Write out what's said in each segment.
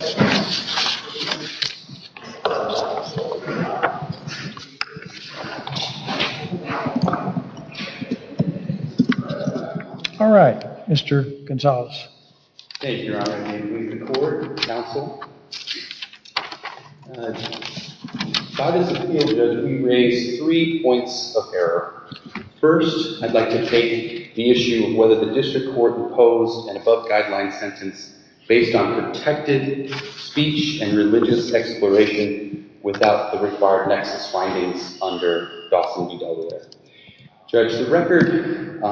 Alright, Mr. Gonzales. Thank you, Your Honor. In the name of the Court and the Counsel, by this appeal, we raise three points of error. First, I'd like to take the issue of whether the District Court imposed an above-guideline sentence based on protected speech and religious exploration without the required nexus findings under Dawson v. Delaware. Judge, the record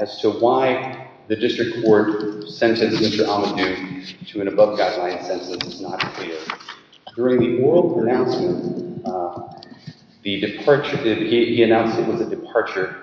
as to why the District Court sentenced Mr. Ahmadou to an above-guideline sentence is not clear. During the oral pronouncement, he announced it was a departure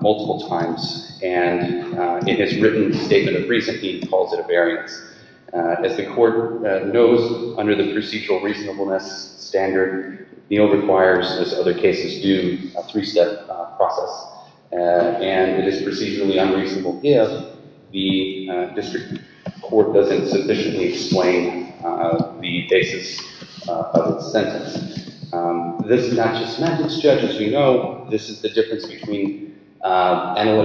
multiple times and, in his written statement of reason, he calls it a variance. As the Court knows, under the procedural reasonableness standard, the bill requires, as other cases do, a three-step process, and it is procedurally unreasonable if the District Court doesn't sufficiently explain the basis of its sentence. This is not just methods, Judge, as we know. This is a set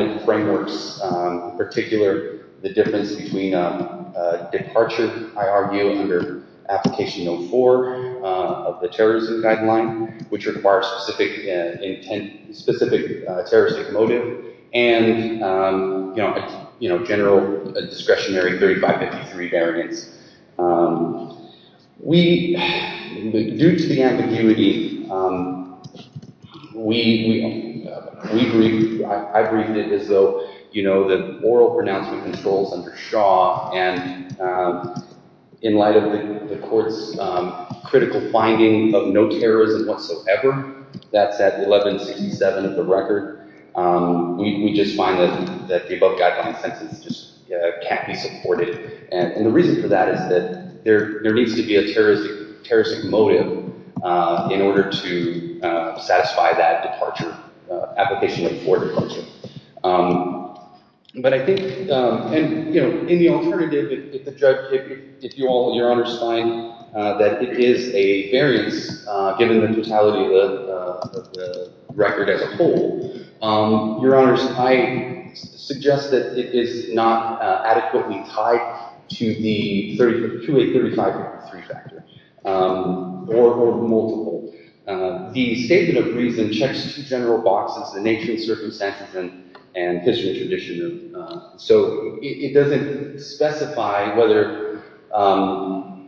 of frameworks, in particular the difference between a departure, I argue, under Application No. 4 of the Terrorism Guideline, which requires a specific terroristic motive, and a general discretionary 3553 variance. Due to the ambiguity, I briefed it as though the oral pronouncement controls under Shaw and, in light of the Court's critical finding of no terrorism whatsoever, that's at 1167 of the record, we just find that the above-guideline sentence just can't be supported, and the reason for that is that there needs to be a terroristic motive in order to satisfy that departure, Application No. 4 departure. But I think, you know, in the alternative, if the Judge, if you all, Your Honors, find that it is a variance, given the totality of the record as a whole, Your Honors, I suggest that it is not adequately tied to the 2835 factor, or multiple. The statement of reason checks the general box as to the nature and circumstances and history and tradition. So it doesn't specify whether, and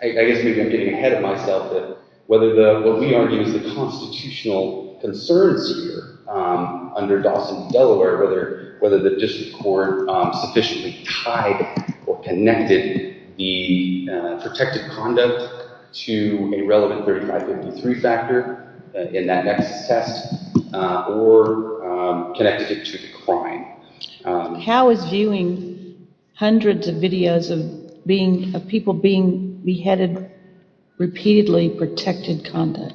I guess maybe I'm getting ahead of myself, whether what we argue is the constitutional concerns here, under Dawson's Delaware, whether the District Court sufficiently tied or connected the protected conduct to a relevant 3553 factor in that nexus test, or connected it to the crime. How is viewing hundreds of videos of people being beheaded repeatedly protected conduct?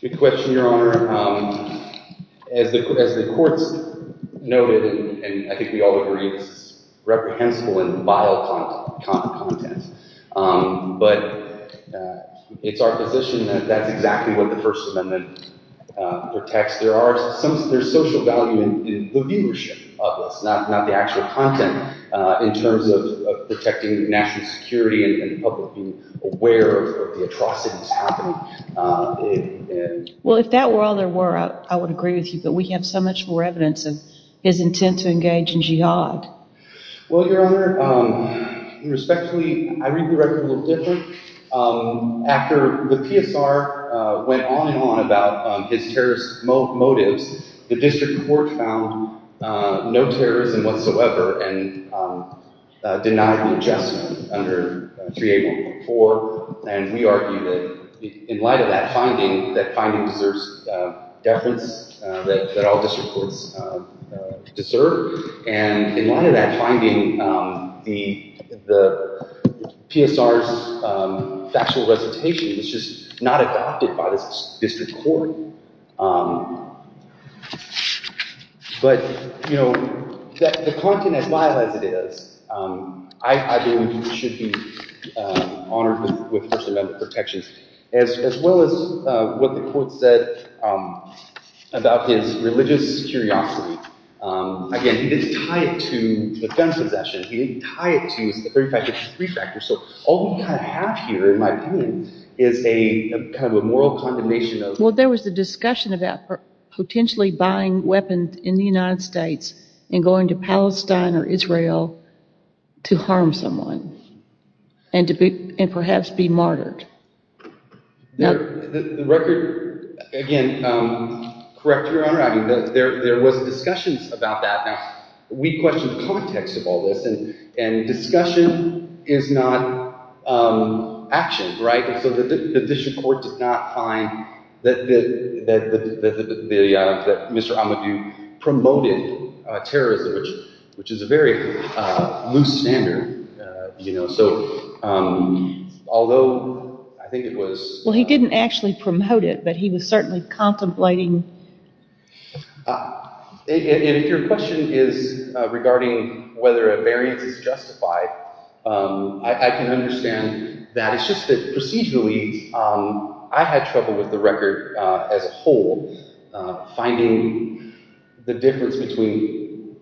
Good question, Your Honor. As the Court's noted, and I think we all agree, it's reprehensible and vile content. But it's our position that that's exactly what the First Amendment protects. There's social value in the viewership of this, not the actual content, in terms of protecting national security and the public being aware of the atrocities happening. Well, if that were all there were, I would agree with you, but we have so much more evidence of his intent to engage in jihad. Well, Your Honor, respectfully, I read the record a little different. After the PSR went on and on about his terrorist motives, the District Court found no terrorism whatsoever and denied the adjustment under 3A.1.4, and we argue that in light of that finding, that all district courts deserve, and in light of that finding, the PSR's factual recitation was just not adopted by the District Court. But, you know, the content as vile as it is, I believe it should be honored with First Amendment protections, as well as what the record said about his religious curiosity. Again, he didn't tie it to the gun possession, he didn't tie it to the fact that he's a refractor, so all we have here, in my opinion, is a kind of a moral condemnation of... Well, there was a discussion about potentially buying weapons in the United States and going to Palestine or Israel to harm someone, and perhaps be martyred. The record, again, correct Your Honor, there was discussions about that. Now, we question the context of all this, and discussion is not action, right? So the District Court did not find that Mr. Amadou promoted terrorism, which is a very loose standard. Although, I think it was... Well, he didn't actually promote it, but he was certainly contemplating... And if your question is regarding whether a variance is justified, I can understand that. It's just that procedurally, I had trouble with the record as a whole, finding the difference between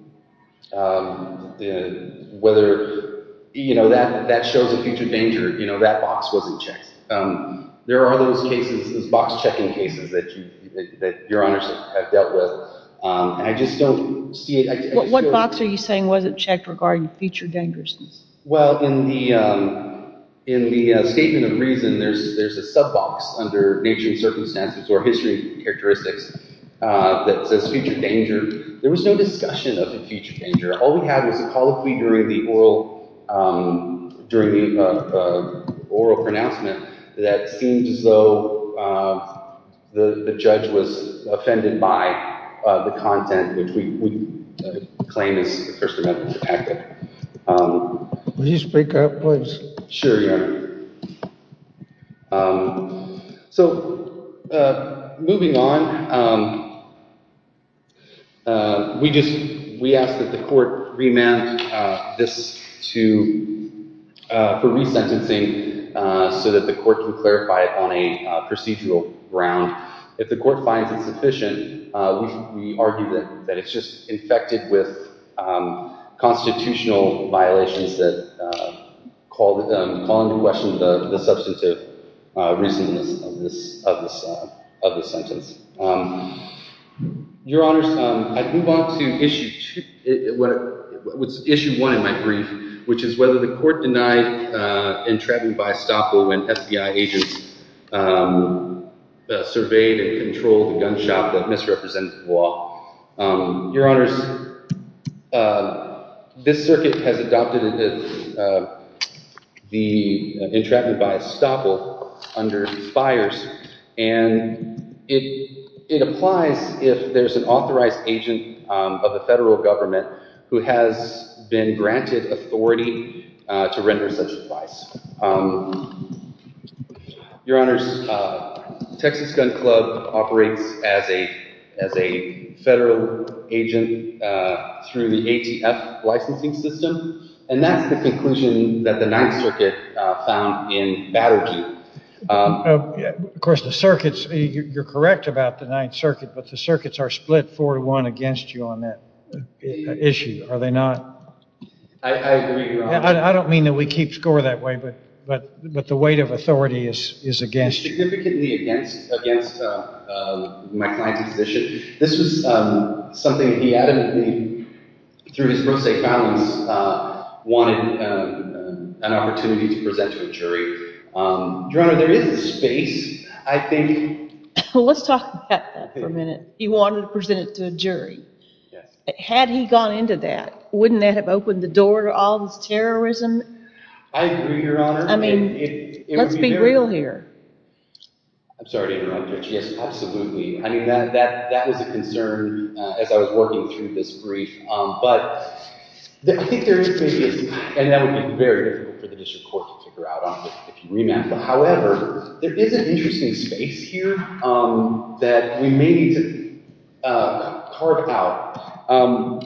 whether that shows a future danger, that box wasn't checked. There are those cases, those box checking cases that Your Honors have dealt with, and I just don't see it... What box are you saying wasn't checked regarding future dangerousness? Well, in the statement of reason, there's a sub-box under nature and circumstances or history characteristics that says future danger. There was no discussion of the future danger. All we had was a colloquy during the oral pronouncement that seems as though the judge was offended by the content, which we claim is first amendment protected. Will you speak up, please? Sure, Your Honor. So, moving on, we asked that the court remand this for resentencing so that the court can clarify it on a procedural ground. If the court finds it sufficient, we argue that it's just infected with constitutional violations that call into question the substantive reasonness of the sentence. Your Honors, I move on to issue one in my brief, which is whether the court denied entrapping by estoppel when FBI agents surveyed and controlled the gun shop that misrepresented the law. Your Honors, this circuit has adopted the entrapment by estoppel under FIRES, and it applies if there's an authorized agent of the federal government who has been granted authority to render such advice. Your Honors, Texas Gun Club operates as a federal agent through the ATF licensing system, and that's the conclusion that the Ninth Circuit found in Battlekeep. Of course, you're correct about the Ninth Circuit, but the circuits are split four to one against you on that issue, are they not? I agree, Your Honor. I don't mean that we keep score that way, but the weight of authority is against you. It's significantly against my client's position. This was something he adamantly, through his pro se balance, wanted an opportunity to present to a jury. Your Honor, there is a space, I think. Let's talk about that for a minute. He wanted to present it to a jury. Yes. Had he gone into that, wouldn't that have opened the door to all this terrorism? I agree, Your Honor. I mean, let's be real here. I'm sorry to interrupt, Judge. Yes, absolutely. I mean, that was a concern as I was working through this brief, but I think there is, and that would be very difficult for the district court to figure out, if you remap, however, there is an interesting space here that we may need to carve out.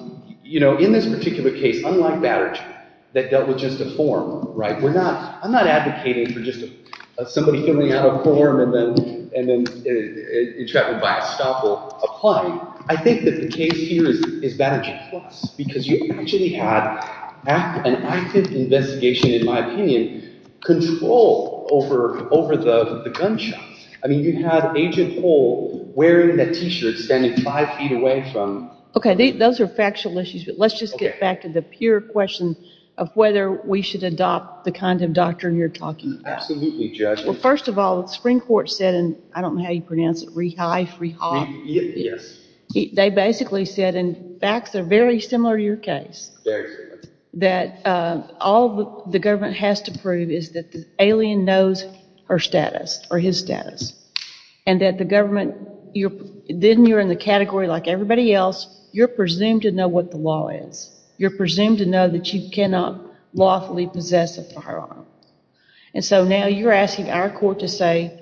In this particular case, unlike Batterjee, that dealt with just a form, right? I'm not advocating for just somebody filling out a form and then entrapped by a stopper. Apply. I think that the case here is Batterjee Plus because you actually had an active investigation, in my opinion, control over the gunshot. I mean, you had Agent Hole wearing that T-shirt standing five feet away from— Okay, those are factual issues, but let's just get back to the pure question of whether we should adopt the kind of doctrine you're talking about. Absolutely, Judge. Well, first of all, the Supreme Court said, and I don't know how you pronounce it, Rehife, Rehob? Yes. They basically said, and facts are very similar to your case. Very similar. That all the government has to prove is that the alien knows her status or his status, and that the government—then you're in the category, like everybody else, you're presumed to know what the law is. You're presumed to know that you cannot lawfully possess a firearm. And so now you're asking our court to say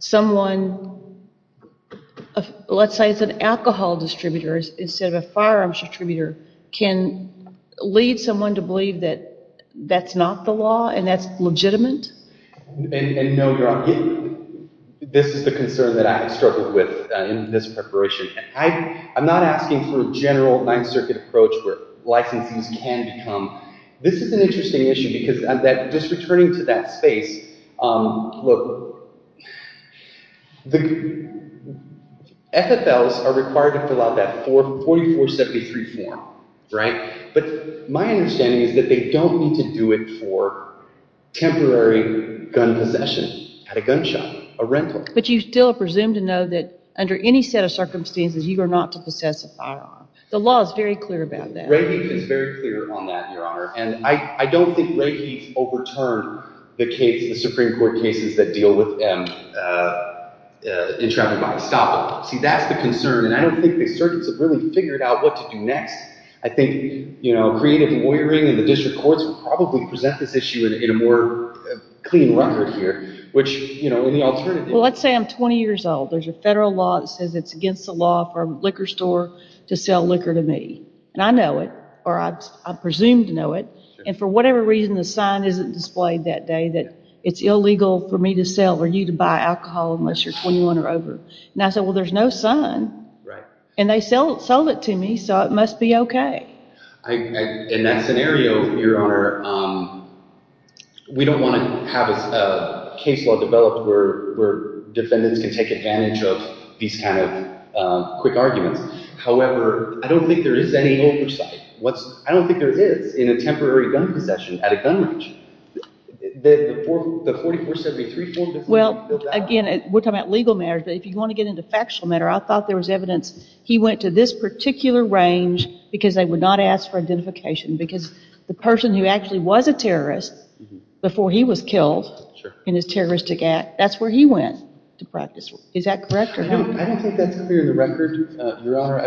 someone—let's say it's an alcohol distributor instead of a firearms distributor— can lead someone to believe that that's not the law and that's legitimate? And no, Your Honor, this is the concern that I have struggled with in this preparation. I'm not asking for a general Ninth Circuit approach where licenses can become— This is an interesting issue because just returning to that space, look, FFLs are required to fill out that 4473 form, right? But my understanding is that they don't need to do it for temporary gun possession at a gun shop, a rental. But you still are presumed to know that under any set of circumstances you are not to possess a firearm. The law is very clear about that. Ray Heath is very clear on that, Your Honor. And I don't think Ray Heath overturned the Supreme Court cases that deal with entrapping by estoppel. See, that's the concern, and I don't think the circuits have really figured out what to do next. I think creative lawyering in the district courts would probably present this issue in a more clean record here. Which, you know, in the alternative— Well, let's say I'm 20 years old. There's a federal law that says it's against the law for a liquor store to sell liquor to me. And I know it, or I'm presumed to know it. And for whatever reason, the sign isn't displayed that day that it's illegal for me to sell or you to buy alcohol unless you're 21 or over. And I say, well, there's no sign. Right. And they sold it to me, so it must be okay. In that scenario, Your Honor, we don't want to have a case law developed where defendants can take advantage of these kind of quick arguments. However, I don't think there is any oversight. I don't think there is in a temporary gun possession at a gun range. The 4473— Well, again, we're talking about legal matters. But if you want to get into factual matter, I thought there was evidence he went to this particular range because they would not ask for identification. Because the person who actually was a terrorist before he was killed in his terroristic act, that's where he went to practice. Is that correct or not? I don't think that's clear in the record, Your Honor. I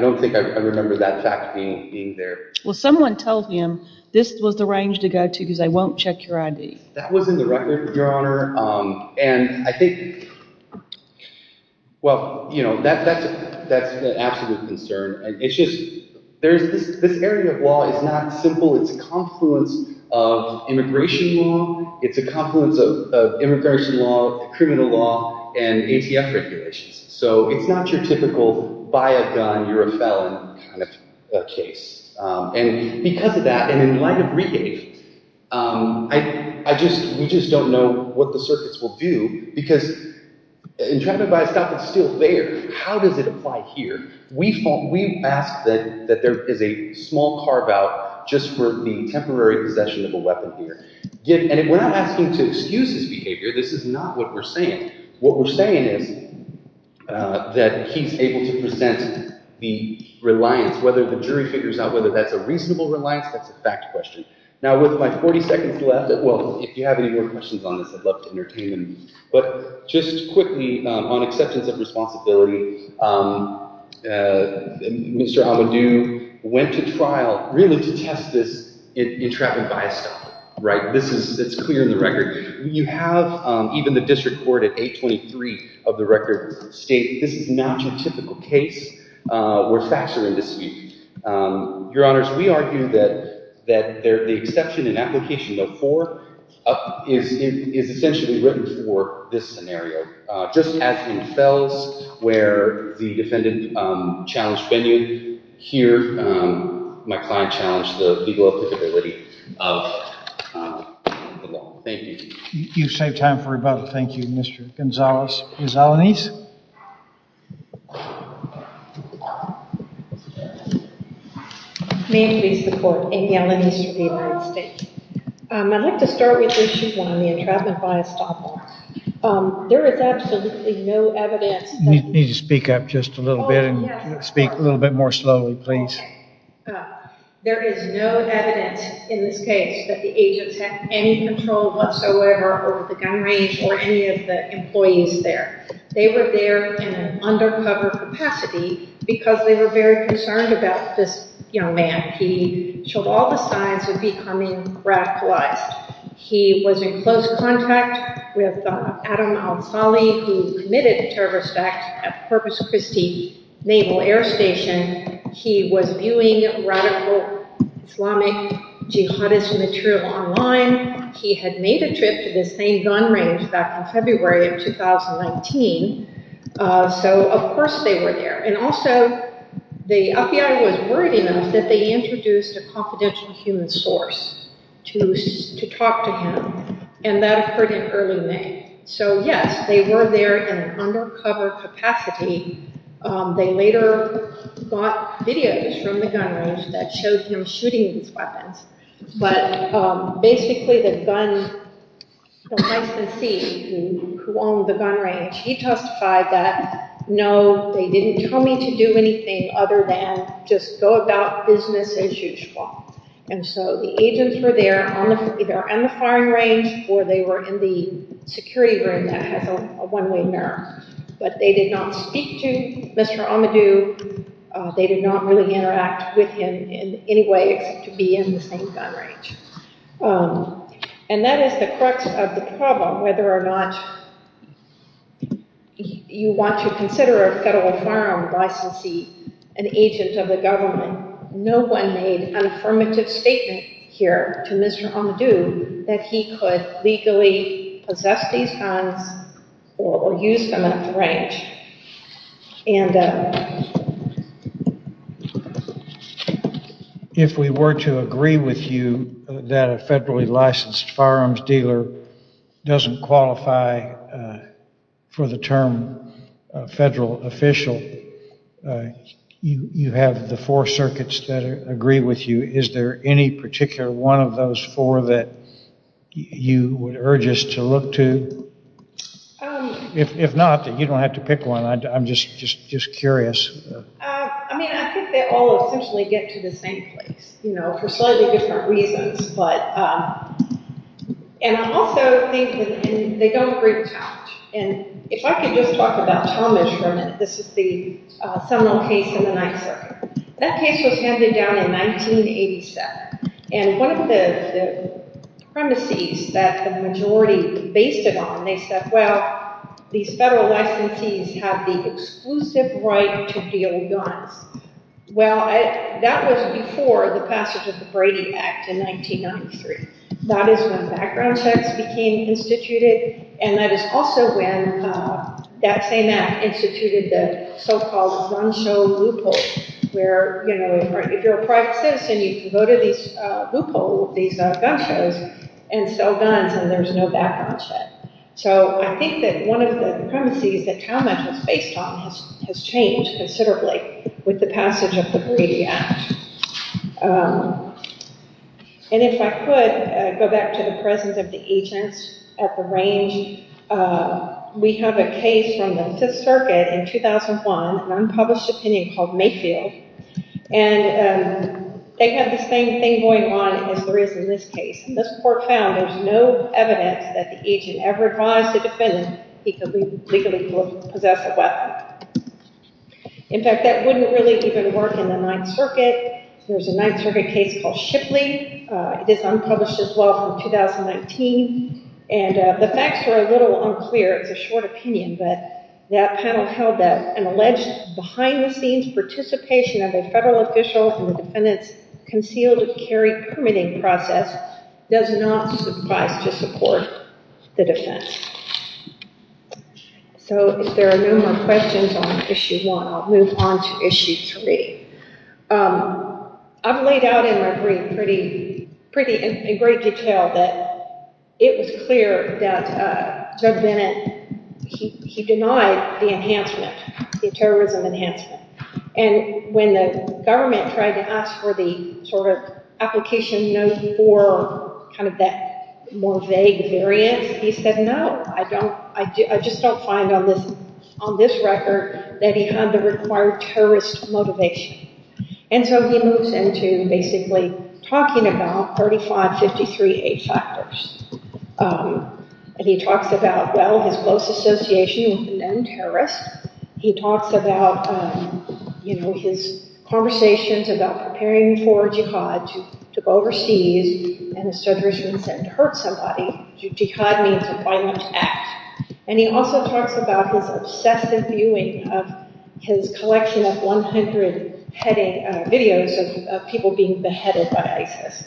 don't think I remember that fact being there. Well, someone told him this was the range to go to because I won't check your ID. That was in the record, Your Honor. And I think—well, you know, that's an absolute concern. It's just—this area of law is not simple. It's a confluence of immigration law. It's a confluence of immigration law, criminal law, and ATF regulations. So it's not your typical buy a gun, you're a felon kind of case. And because of that, and in light of rehave, I just—we just don't know what the circuits will do. Because in trying to buy a stop, it's still there. How does it apply here? We ask that there is a small carve-out just for the temporary possession of a weapon here. And we're not asking to excuse his behavior. This is not what we're saying. What we're saying is that he's able to present the reliance, whether the jury figures out whether that's a reasonable reliance. That's a fact question. Now, with my 40 seconds left—well, if you have any more questions on this, I'd love to entertain them. But just quickly, on acceptance of responsibility, Mr. Abadou went to trial really to test this in traffic buy a stop, right? This is—it's clear in the record. You have even the district court at 823 of the record state this is not your typical case where facts are in dispute. Your Honors, we argue that the exception in application of 4 is essentially written for this scenario. Just as in Fels, where the defendant challenged venue, here my client challenged the legal applicability of the law. Thank you. You've saved time for rebuttal. Thank you, Mr. Gonzalez. Ms. Alaniz? May it please the court, Amy Alaniz for the United States. I'd like to start with issue one, the entrapment buy a stop law. There is absolutely no evidence— You need to speak up just a little bit and speak a little bit more slowly, please. There is no evidence in this case that the agents had any control whatsoever over the gun range or any of the employees there. They were there in an undercover capacity because they were very concerned about this young man. He showed all the signs of becoming radicalized. He was in close contact with Adam Alfali, who committed a terrorist act at Purpose Christi Naval Air Station. He was viewing radical Islamic jihadist material online. He had made a trip to the same gun range back in February of 2019. So, of course, they were there. And also, the FBI was worried enough that they introduced a confidential human source to talk to him. And that occurred in early May. So, yes, they were there in an undercover capacity. They later got videos from the gun range that showed him shooting these weapons. But basically, the gun licensee who owned the gun range, he testified that, no, they didn't tell me to do anything other than just go about business as usual. And so the agents were there either on the firing range or they were in the security room that has a one-way mirror. But they did not speak to Mr. Amadou. They did not really interact with him in any way except to be in the same gun range. And that is the crux of the problem, whether or not you want to consider a federal firearm licensee an agent of the government. No one made an affirmative statement here to Mr. Amadou that he could legally possess these guns or use them at the range. If we were to agree with you that a federally licensed firearms dealer doesn't qualify for the term federal official, you have the four circuits that agree with you. Is there any particular one of those four that you would urge us to look to? If not, then you don't have to pick one. I'm just curious. I mean, I think they all essentially get to the same place, you know, for slightly different reasons. And I'm also thinking, they don't reach out. And if I could just talk about Thomas for a minute, this is the Seminole case in the 9th Circuit. That case was handed down in 1987. And one of the premises that the majority based it on, they said, well, these federal licensees have the exclusive right to deal guns. Well, that was before the passage of the Brady Act in 1993. That is when background checks became instituted. And that is also when that same act instituted the so-called gun show loophole, where, you know, if you're a private citizen, you can go to these loopholes, these gun shows, and sell guns, and there's no background check. So I think that one of the premises that Talmadge was based on has changed considerably with the passage of the Brady Act. And if I could go back to the presence of the agents at the range, we have a case from the 5th Circuit in 2001, an unpublished opinion called Mayfield. And they had the same thing going on as there is in this case. And this court found there's no evidence that the agent ever advised the defendant he could legally possess a weapon. In fact, that wouldn't really even work in the 9th Circuit. There's a 9th Circuit case called Shipley. It is unpublished as well from 2019. And the facts were a little unclear. It's a short opinion, but that panel held that an alleged behind-the-scenes participation of a federal official in the defendant's concealed carry permitting process does not suffice to support the defense. So if there are no more questions on Issue 1, I'll move on to Issue 3. I've laid out in my brief in great detail that it was clear that Judge Bennett, he denied the enhancement, the terrorism enhancement. And when the government tried to ask for the sort of application note for kind of that more vague variance, he said, no, I just don't find on this record that he had the required terrorist motivation. And so he moves into basically talking about 3553A factors. And he talks about, well, his close association with the non-terrorists. He talks about, you know, his conversations about preparing for jihad, to go overseas, and to hurt somebody. Jihad means a violent act. And he also talks about his obsessive viewing of his collection of 100 videos of people being beheaded by ISIS.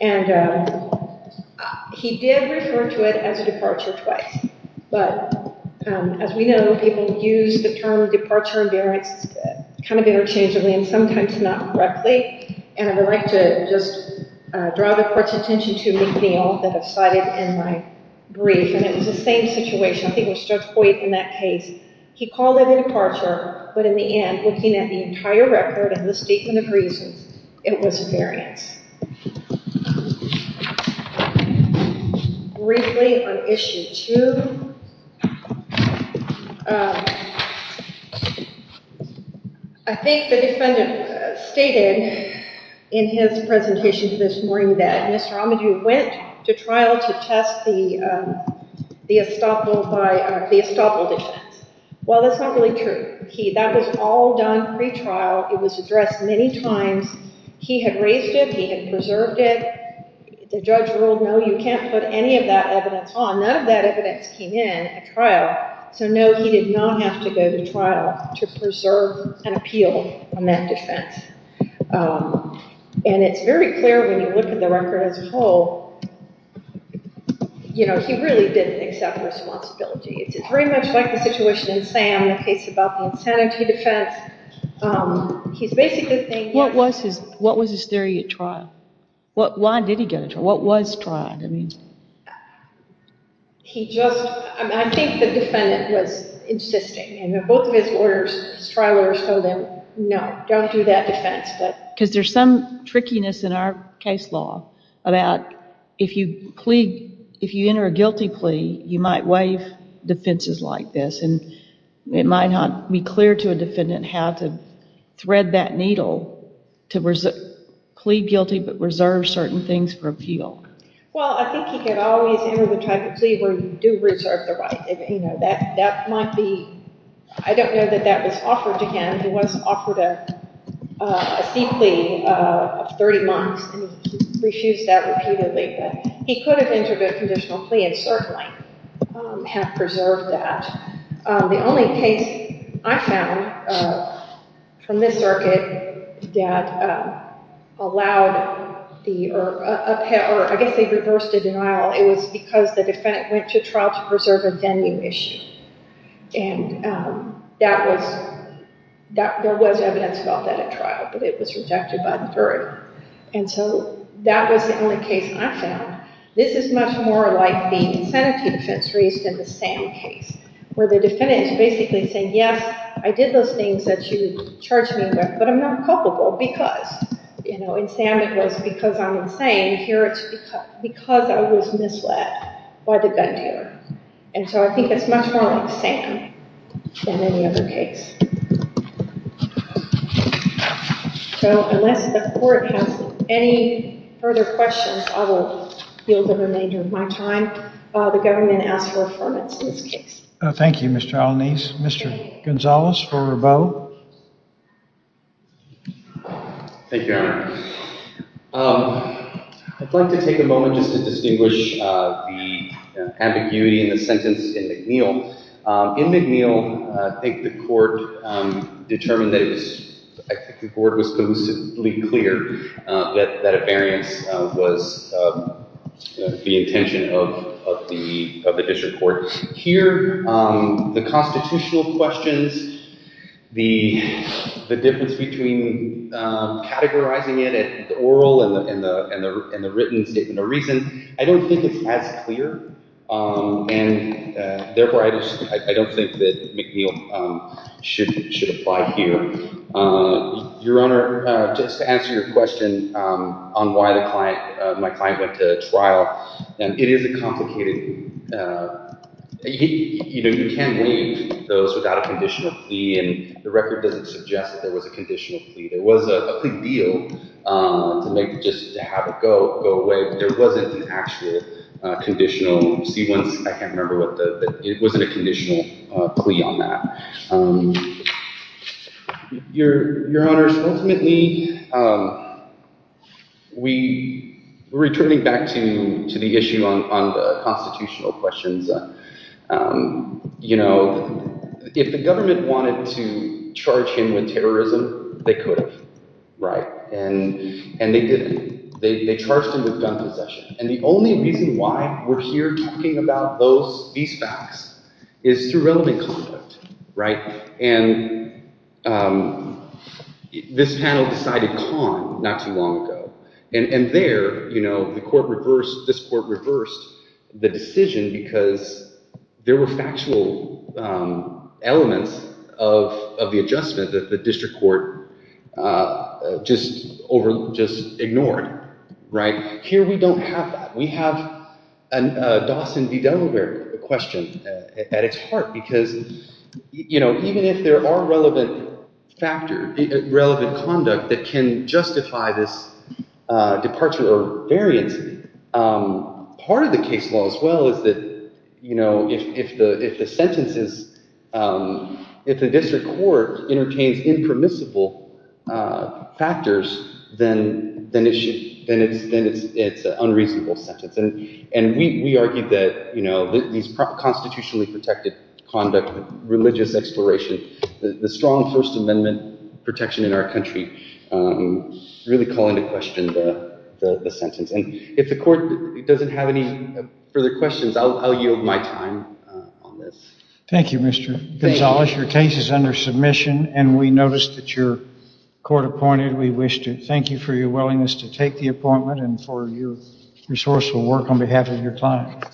And he did refer to it as a departure twice. But as we know, people use the term departure and variance kind of interchangeably and sometimes not correctly. And I would like to just draw the court's attention to McNeil that I cited in my brief. And it was the same situation. I think it was Judge Boyd in that case. He called it a departure. But in the end, looking at the entire record and the statement of reasons, it was a variance. Briefly on Issue 2, I think the defendant stated in his presentation this morning that Mr. Amadou went to trial to test the estoppel defense. Well, that's not really true. That was all done pretrial. It was addressed many times. He had raised it. He had preserved it. The judge ruled, no, you can't put any of that evidence on. None of that evidence came in at trial. So, no, he did not have to go to trial to preserve an appeal on that defense. And it's very clear when you look at the record as a whole, you know, he really didn't accept responsibility. It's very much like the situation in Sam, the case about the insanity defense. He's basically saying- What was his theory at trial? Why did he go to trial? What was trial? I think the defendant was insisting. Both of his trial orders told him, no, don't do that defense. Because there's some trickiness in our case law about if you enter a guilty plea, you might waive defenses like this. And it might not be clear to a defendant how to thread that needle to plead guilty but reserve certain things for appeal. Well, I think he could always enter the type of plea where you do reserve the right. You know, that might be- I don't know that that was offered again. He was offered a C plea of 30 months, and he refused that repeatedly. But he could have entered a conditional plea and certainly have preserved that. The only case I found from this circuit that allowed the- or I guess they reversed the denial. It was because the defendant went to trial to preserve a venue issue. And that was- there was evidence about that at trial, but it was rejected by the jury. And so that was the only case I found. This is much more like the insanity defense case than the SAM case, where the defendant is basically saying, yes, I did those things that you charged me with, but I'm not culpable because. You know, in SAM it was because I'm insane. Here it's because I was misled by the gun dealer. And so I think it's much more like SAM than any other case. So unless the court has any further questions, I will yield the remainder of my time. The government asks for affirmance in this case. Thank you, Ms. Chalanese. Mr. Gonzalez for a vote. Thank you, Your Honor. I'd like to take a moment just to distinguish the ambiguity in the sentence in McNeil. In McNeil, I think the court determined that it was- I think the court was collusively clear that affairance was the intention of the district court. Here, the constitutional questions, the difference between categorizing it at the oral and the written statement of reason, I don't think it's as clear. And therefore, I don't think that McNeil should apply here. Your Honor, just to answer your question on why my client went to trial, it is a complicated- you know, you can't leave those without a conditional plea, and the record doesn't suggest that there was a conditional plea. It was a big deal to make- just to have it go away, but there wasn't an actual conditional- you see one- I can't remember what the- it wasn't a conditional plea on that. Your Honor, so ultimately, we- returning back to the issue on the constitutional questions, you know, if the government wanted to charge him with terrorism, they could have, right? And they didn't. They charged him with gun possession. And the only reason why we're here talking about these facts is through relevant conduct, right? And this panel decided Kahn not too long ago. And there, you know, the court reversed- this court reversed the decision because there were factual elements of the adjustment that the district court just ignored, right? Here, we don't have that. We have a Dawson v. Delaware question at its heart because, you know, even if there are relevant factors, relevant conduct that can justify this departure or variance, part of the case law as well is that, you know, if the sentence is- if the district court entertains impermissible factors, then it's an unreasonable sentence. And we argue that, you know, these constitutionally protected conduct, religious exploration, the strong First Amendment protection in our country really call into question the sentence. And if the court doesn't have any further questions, I'll yield my time on this. Thank you, Mr. Gonzales. Your case is under submission, and we noticed that your court appointed. We wish to thank you for your willingness to take the appointment and for your resourceful work on behalf of your client.